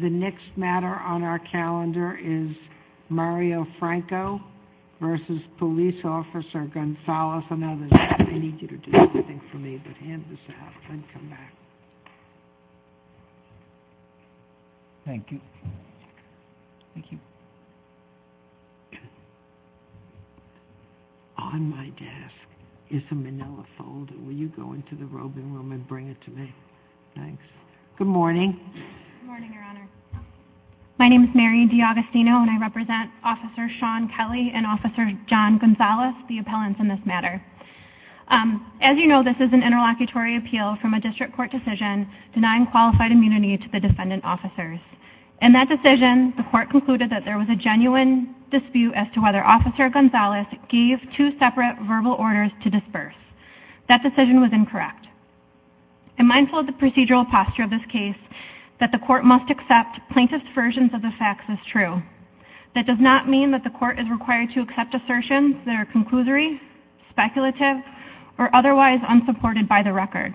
The next matter on our calendar is Mario Franco versus police officer Gonzales and others. I need you to do something for me, but hand this out and come back. Thank you. Thank you. On my desk is a manila folder. Will you go into the roving room and bring it to me? Thanks. Good morning. Good morning, Your Honor. My name is Mary D'Agostino and I represent Officer Sean Kelly and Officer John Gonzales, the appellants in this matter. As you know, this is an interlocutory appeal from a district court decision denying qualified immunity to the defendant officers. In that decision, the court concluded that there was a genuine dispute as to whether Officer Gonzales gave two separate verbal orders to disperse. That decision was incorrect. I'm mindful of the procedural posture of this case that the court must accept plaintiff's versions of the facts as true. That does not mean that the court is required to accept assertions that are conclusory, speculative, or otherwise unsupported by the record.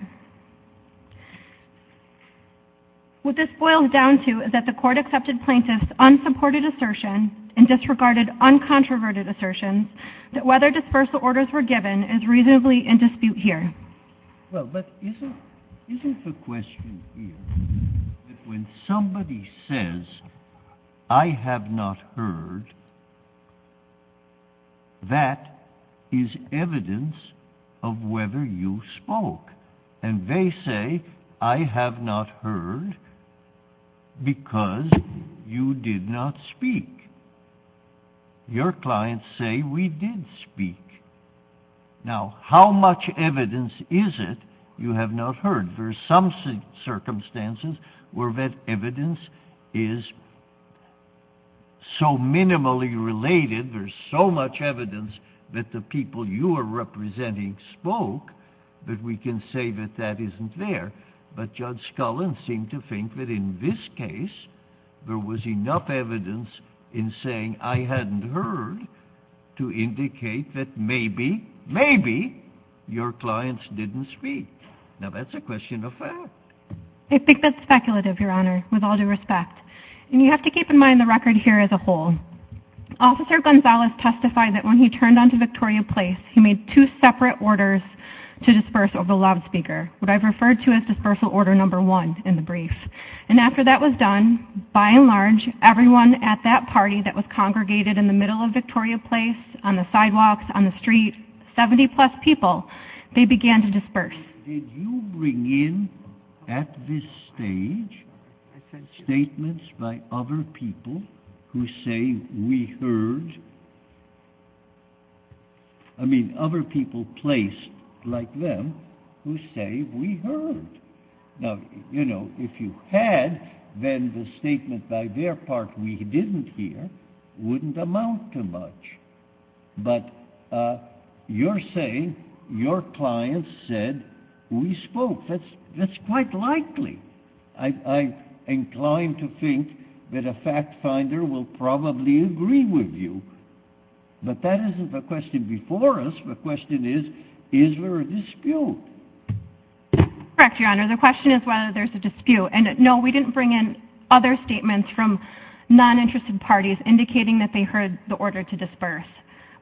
What this boils down to is that the court accepted plaintiff's unsupported assertion and disregarded uncontroverted assertions that whether dispersal orders were given is reasonably in dispute here. Well, but isn't the question here that when somebody says, I have not heard, that is evidence of whether you spoke. And they say, I have not heard because you did not speak. Your clients say, we did speak. Now, how much evidence is it you have not heard? There are some circumstances where that evidence is so minimally related, there's so much evidence that the people you are representing spoke, that we can say that that isn't there. But Judge Scullin seemed to think that in this case, there was enough evidence in saying, I hadn't heard, to indicate that maybe, maybe, your clients didn't speak. Now, that's a question of fact. I think that's speculative, Your Honor, with all due respect. And you have to keep in mind the record here as a whole. Officer Gonzalez testified that when he turned on to Victoria Place, he made two separate orders to disperse over loudspeaker. What I've referred to as dispersal order number one in the brief. And after that was done, by and large, everyone at that party that was congregated in the middle of Victoria Place, on the sidewalks, on the streets, 70-plus people, they began to disperse. Did you bring in, at this stage, statements by other people who say we heard? I mean, other people placed, like them, who say we heard. Now, you know, if you had, then the statement by their part we didn't hear wouldn't amount to much. But you're saying your clients said we spoke. That's quite likely. I'm inclined to think that a fact finder will probably agree with you. But that isn't the question before us. The question is, is there a dispute? Correct, Your Honor. The question is whether there's a dispute. And, no, we didn't bring in other statements from non-interested parties indicating that they heard the order to disperse.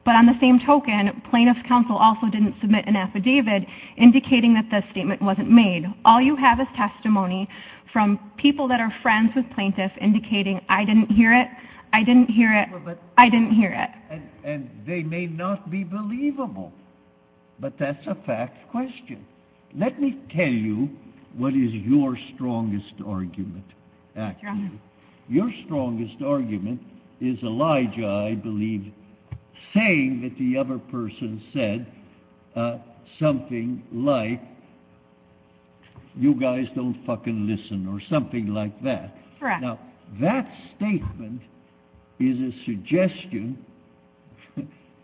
But on the same token, plaintiff's counsel also didn't submit an affidavit indicating that the statement wasn't made. All you have is testimony from people that are friends with plaintiffs indicating I didn't hear it, I didn't hear it, I didn't hear it. And they may not be believable. But that's a fact question. Let me tell you what is your strongest argument, actually. Your strongest argument is Elijah, I believe, saying that the other person said something like, you guys don't fucking listen or something like that. Now, that statement is a suggestion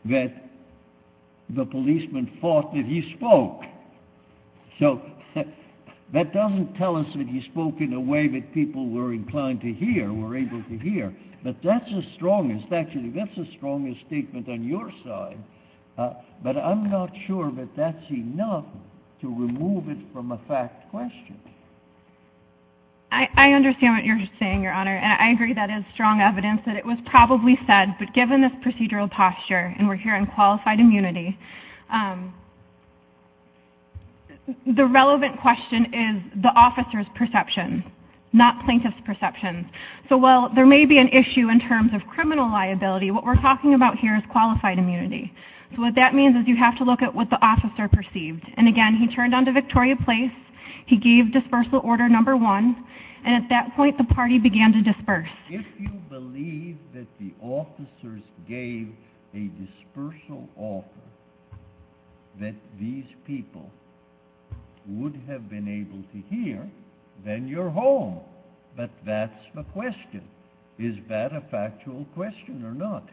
that the policeman thought that he spoke. So that doesn't tell us that he spoke in a way that people were inclined to hear, were able to hear. But that's the strongest, actually, that's the strongest statement on your side. But I'm not sure that that's enough to remove it from a fact question. I understand what you're saying, Your Honor, and I agree that is strong evidence that it was probably said. But given this procedural posture, and we're here on qualified immunity, the relevant question is the officer's perception, not plaintiff's perception. So while there may be an issue in terms of criminal liability, what we're talking about here is qualified immunity. So what that means is you have to look at what the officer perceived. And again, he turned on to Victoria Place, he gave dispersal order number one, and at that point the party began to disperse. If you believe that the officers gave a dispersal order that these people would have been able to hear, then you're home. But that's the question. Is that a factual question or not?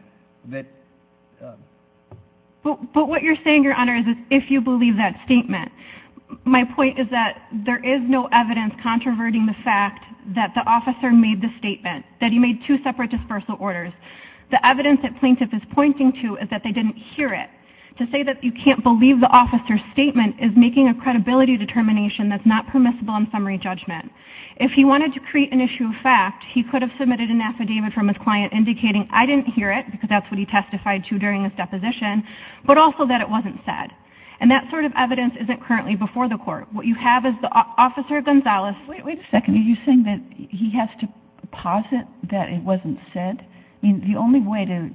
But what you're saying, Your Honor, is if you believe that statement. My point is that there is no evidence controverting the fact that the officer made the statement, that he made two separate dispersal orders. The evidence that plaintiff is pointing to is that they didn't hear it. To say that you can't believe the officer's statement is making a credibility determination that's not permissible in summary judgment. If he wanted to create an issue of fact, he could have submitted an affidavit from his client indicating, I didn't hear it, because that's what he testified to during his deposition, but also that it wasn't said. And that sort of evidence isn't currently before the court. What you have is the officer, Gonzalez... Wait a second. Are you saying that he has to posit that it wasn't said? The only way to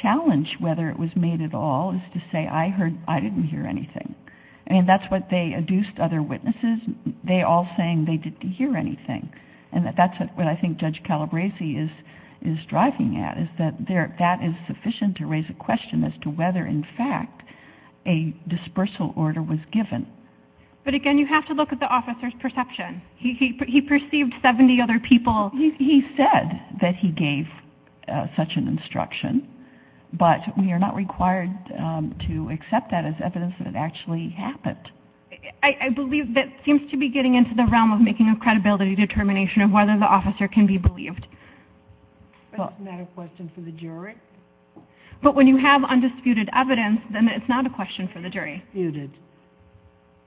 challenge whether it was made at all is to say, I didn't hear anything. And that's what they adduced other witnesses, they all saying they didn't hear anything. And that's what I think Judge Calabresi is striving at, is that that is sufficient to raise a question as to whether, in fact, a dispersal order was given. But again, you have to look at the officer's perception. He perceived 70 other people... Well, he said that he gave such an instruction, but we are not required to accept that as evidence that it actually happened. I believe that seems to be getting into the realm of making a credibility determination of whether the officer can be believed. But it's not a question for the jury? But when you have undisputed evidence, then it's not a question for the jury.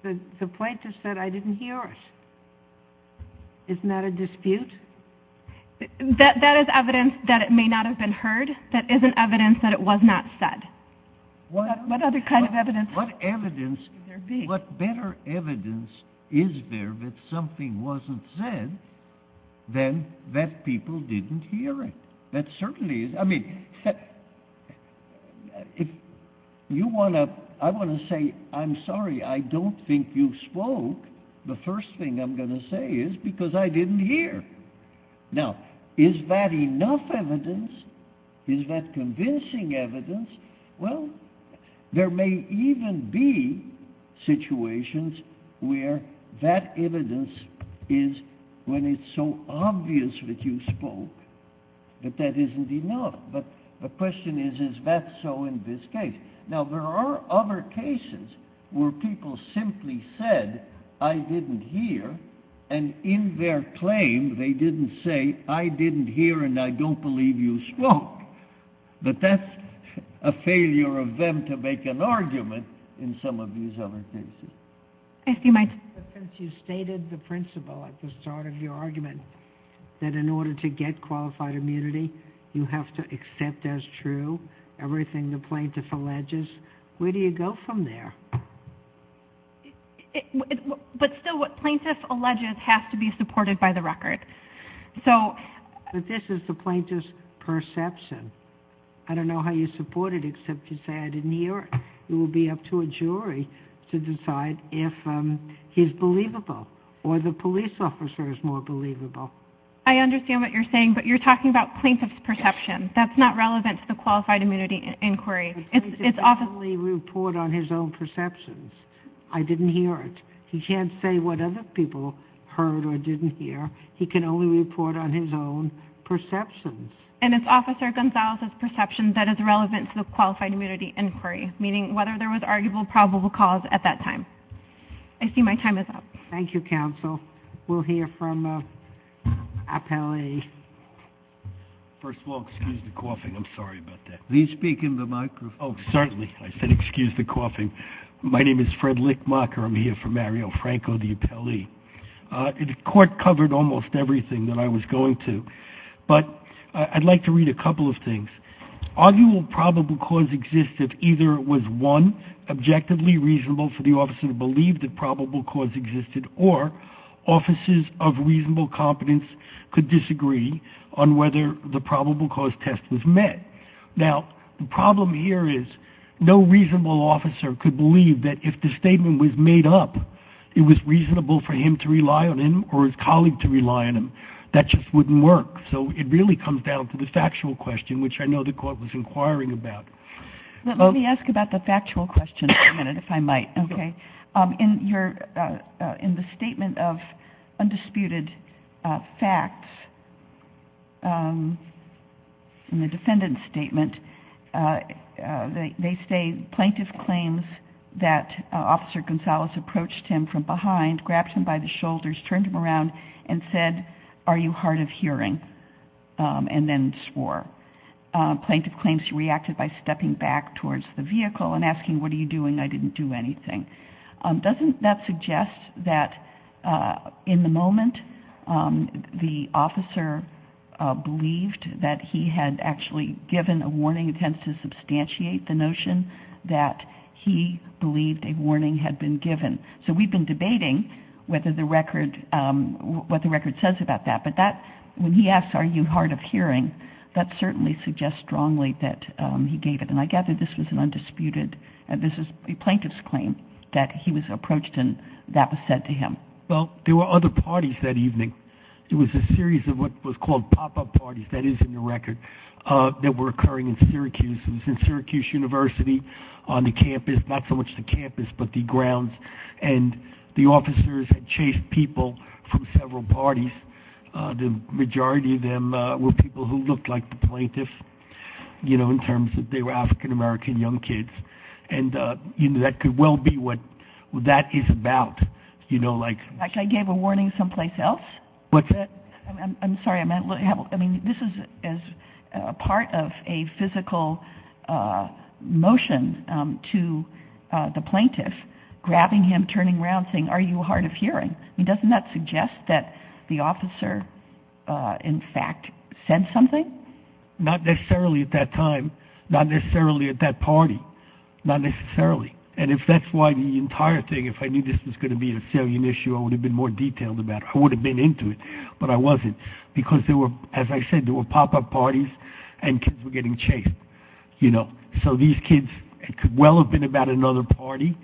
The plaintiff said, I didn't hear it. Isn't that a dispute? That is evidence that it may not have been heard. That isn't evidence that it was not said. What other kind of evidence could there be? What better evidence is there that something wasn't said than that people didn't hear it? That certainly is... I mean, if you want to... I want to say, I'm sorry, I don't think you spoke. The first thing I'm going to say is because I didn't hear. Now, is that enough evidence? Is that convincing evidence? Well, there may even be situations where that evidence is when it's so obvious that you spoke that that is indeed not. But the question is, is that so in this case? Now, there are other cases where people simply said, I didn't hear. And in their claim, they didn't say, I didn't hear and I don't believe you spoke. But that's a failure of them to make an argument in some of these other cases. Since you stated the principle at the start of your argument that in order to get qualified immunity, you have to accept as true everything the plaintiff alleges, where do you go from there? But still, what plaintiff alleges has to be supported by the record. But this is the plaintiff's perception. I don't know how you support it except you say, I didn't hear it. It will be up to a jury to decide if he's believable or the police officer is more believable. I understand what you're saying, but you're talking about plaintiff's perception. That's not relevant to the qualified immunity inquiry. The plaintiff can only report on his own perceptions. I didn't hear it. He can't say what other people heard or didn't hear. He can only report on his own perceptions. And it's Officer Gonzalez's perception that is relevant to the qualified immunity inquiry, meaning whether there was arguable probable cause at that time. I see my time is up. Thank you, counsel. We'll hear from appellee. First of all, excuse the coughing. I'm sorry about that. Will you speak into the microphone? Oh, certainly. I said excuse the coughing. My name is Fred Lickmacher. I'm here for Mario Franco, the appellee. The court covered almost everything that I was going to. But I'd like to read a couple of things. Arguable probable cause exists if either it was, one, objectively reasonable for the officer to believe that probable cause existed, or officers of reasonable competence could disagree on whether the probable cause test was met. Now, the problem here is no reasonable officer could believe that if the statement was made up, it was reasonable for him to rely on him or his colleague to rely on him. That just wouldn't work. So it really comes down to the factual question, which I know the court was inquiring about. Let me ask about the factual question for a minute, if I might. In the statement of undisputed facts, in the defendant's statement, they say plaintiff claims that Officer Gonzalez approached him from behind, grabbed him by the shoulders, turned him around, and said, are you hard of hearing, and then swore. Plaintiff claims he reacted by stepping back towards the vehicle and asking, what are you doing? I didn't do anything. Doesn't that suggest that in the moment the officer believed that he had actually given a warning? It tends to substantiate the notion that he believed a warning had been given. So we've been debating what the record says about that. But when he asks, are you hard of hearing, that certainly suggests strongly that he gave it. And I gather this was an undisputed plaintiff's claim that he was approached and that was said to him. Well, there were other parties that evening. It was a series of what was called pop-up parties, that is in the record, that were occurring in Syracuse. It was in Syracuse University on the campus, not so much the campus but the grounds, and the officers had chased people from several parties. The majority of them were people who looked like the plaintiff in terms that they were African-American young kids. And that could well be what that is about. Like I gave a warning someplace else? I'm sorry. This is part of a physical motion to the plaintiff, grabbing him, turning around, saying, are you hard of hearing? Doesn't that suggest that the officer, in fact, said something? Not necessarily at that time. Not necessarily at that party. Not necessarily. And if that's why the entire thing, if I knew this was going to be a salient issue, I would have been more detailed about it. I would have been into it. But I wasn't because, as I said, there were pop-up parties and kids were getting chased. So these kids, it could well have been about another party.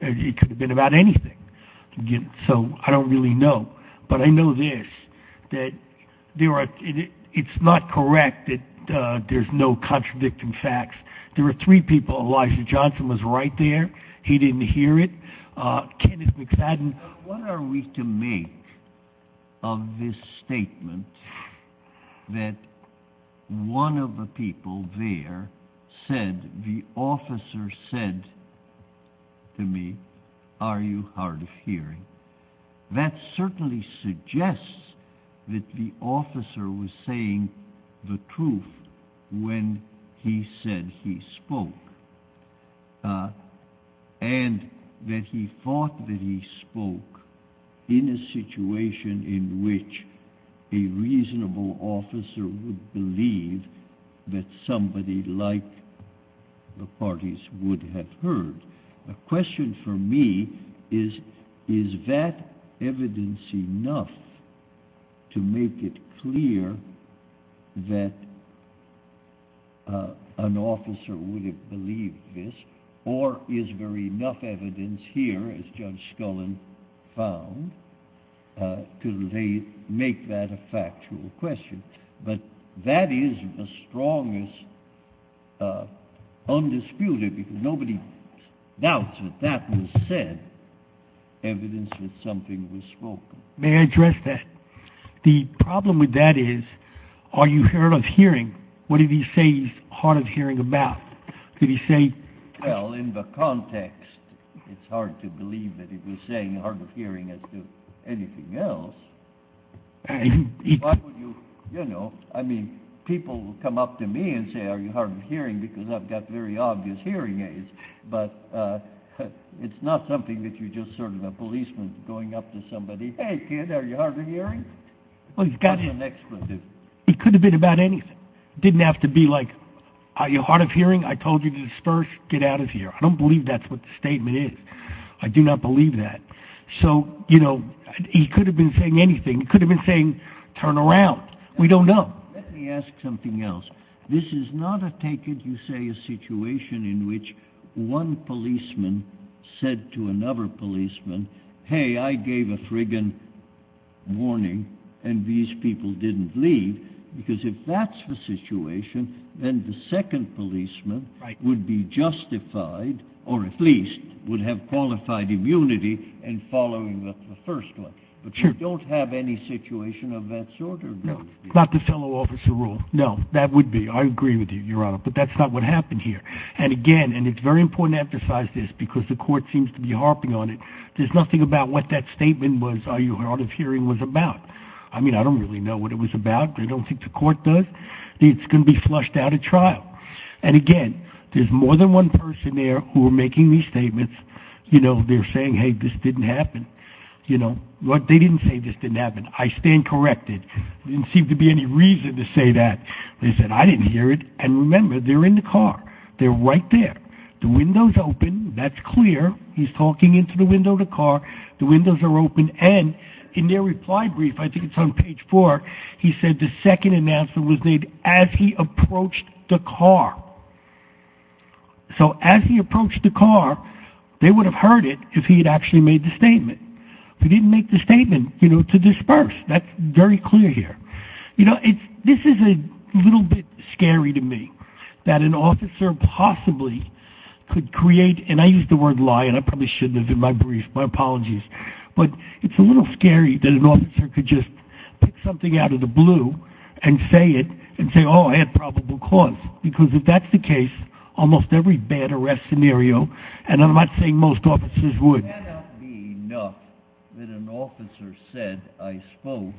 It could have been about anything. So I don't really know. But I know this, that it's not correct that there's no contradicting facts. There were three people. Elijah Johnson was right there. He didn't hear it. Kenneth McFadden. What are we to make of this statement that one of the people there said the officer said to me, are you hard of hearing? That certainly suggests that the officer was saying the truth when he said he spoke. And that he thought that he spoke in a situation in which a reasonable officer would believe that somebody like the parties would have heard. The question for me is, is that evidence enough to make it clear that an officer would have believed this? Or is there enough evidence here, as Judge Scullin found, to make that a factual question? But that is the strongest undisputed, because nobody doubts that that was said, evidence that something was spoken. May I address that? The problem with that is, are you hard of hearing? What did he say he's hard of hearing about? Did he say... Well, in the context, it's hard to believe that he was saying hard of hearing as to anything else. Why would you, you know, I mean, people come up to me and say, are you hard of hearing? Because I've got very obvious hearing aids. But it's not something that you just sort of a policeman going up to somebody, hey, kid, are you hard of hearing? Well, he could have been about anything. Didn't have to be like, are you hard of hearing? I told you to disperse. Get out of here. I don't believe that's what the statement is. I do not believe that. So, you know, he could have been saying anything. He could have been saying, turn around. We don't know. Let me ask something else. This is not, I take it, you say, a situation in which one policeman said to another policeman, hey, I gave a frigging warning, and these people didn't leave. Because if that's the situation, then the second policeman would be justified, or at least would have qualified immunity in following the first one. But you don't have any situation of that sort? Not the fellow officer rule. No, that would be. I agree with you, Your Honor. But that's not what happened here. And, again, and it's very important to emphasize this because the court seems to be harping on it. There's nothing about what that statement was, are you hard of hearing, was about. I mean, I don't really know what it was about. I don't think the court does. It's going to be flushed out at trial. And, again, there's more than one person there who are making these statements. You know, they're saying, hey, this didn't happen. You know, they didn't say this didn't happen. I stand corrected. There didn't seem to be any reason to say that. They said, I didn't hear it. And, remember, they're in the car. They're right there. The window's open. That's clear. He's talking into the window of the car. The windows are open. And in their reply brief, I think it's on page four, he said the second announcement was made as he approached the car. So as he approached the car, they would have heard it if he had actually made the statement. He didn't make the statement, you know, to disperse. That's very clear here. You know, this is a little bit scary to me that an officer possibly could create, and I use the word lie, and I probably shouldn't have in my brief. My apologies. But it's a little scary that an officer could just pick something out of the blue and say it and say, oh, I had probable cause. Because if that's the case, almost every bad arrest scenario, and I'm not saying most officers would. It cannot be enough that an officer said I spoke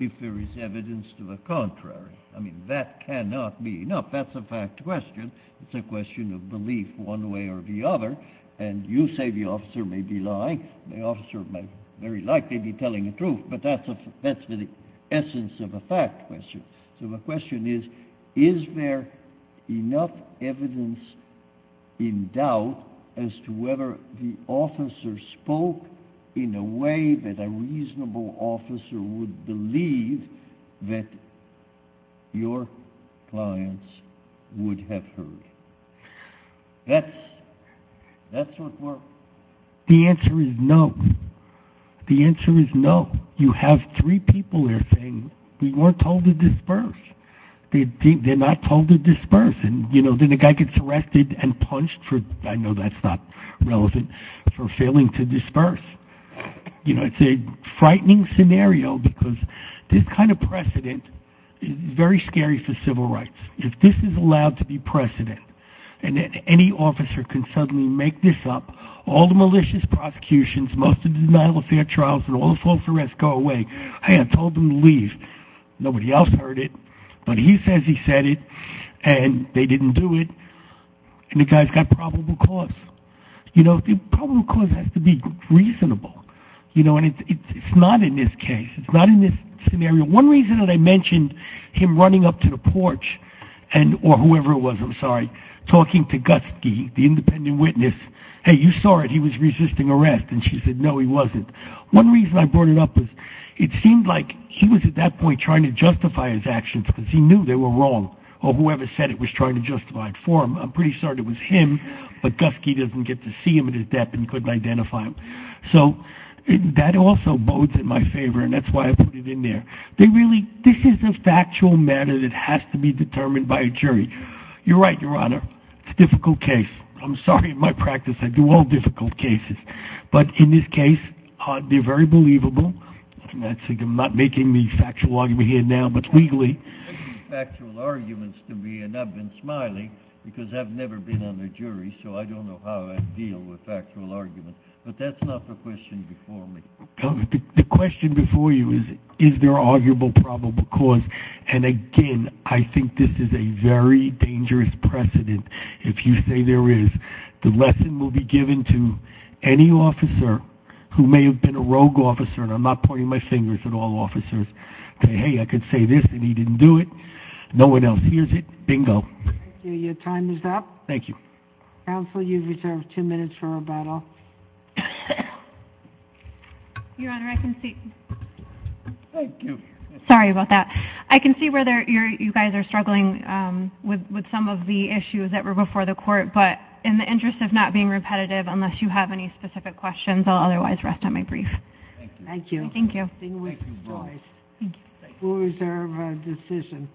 if there is evidence to the contrary. I mean, that cannot be enough. That's a fact question. It's a question of belief one way or the other. And you say the officer may be lying. The officer may very likely be telling the truth. But that's the essence of a fact question. So the question is, is there enough evidence in doubt as to whether the officer spoke in a way that a reasonable officer would believe that your clients would have heard? That's what we're. The answer is no. The answer is no. You have three people there saying we weren't told to disperse. They're not told to disperse. And, you know, then the guy gets arrested and punched for, I know that's not relevant, for failing to disperse. You know, it's a frightening scenario because this kind of precedent is very scary for civil rights. If this is allowed to be precedent and any officer can suddenly make this up, all the malicious prosecutions, most of the denial of fair trials and all the false arrests go away. Hey, I told them to leave. Nobody else heard it. But he says he said it and they didn't do it. And the guy's got probable cause. You know, the probable cause has to be reasonable. You know, and it's not in this case. It's not in this scenario. One reason that I mentioned him running up to the porch or whoever it was, I'm sorry, talking to Guskey, the independent witness, hey, you saw it, he was resisting arrest. And she said, no, he wasn't. One reason I brought it up was it seemed like he was at that point trying to justify his actions because he knew they were wrong or whoever said it was trying to justify it for him. I'm pretty sure it was him, but Guskey doesn't get to see him at his death and couldn't identify him. So that also bodes in my favor, and that's why I put it in there. This is a factual matter that has to be determined by a jury. You're right, Your Honor, it's a difficult case. I'm sorry, in my practice I do all difficult cases. But in this case, they're very believable. I'm not making any factual argument here now, but legally. I'm making factual arguments to me, and I've been smiling because I've never been on a jury, so I don't know how I deal with factual arguments. But that's not the question before me. The question before you is, is there arguable probable cause? And again, I think this is a very dangerous precedent. If you say there is, the lesson will be given to any officer who may have been a rogue officer, and I'm not pointing my fingers at all officers, to say, hey, I could say this, and he didn't do it. No one else hears it. Bingo. Your time is up. Thank you. Counsel, you've reserved two minutes for rebuttal. Your Honor, I can see. Thank you. Sorry about that. I can see where you guys are struggling with some of the issues that were before the court, but in the interest of not being repetitive, unless you have any specific questions, I'll otherwise rest on my brief. Thank you. Thank you. Thank you, boys. Thank you. We'll reserve our decision.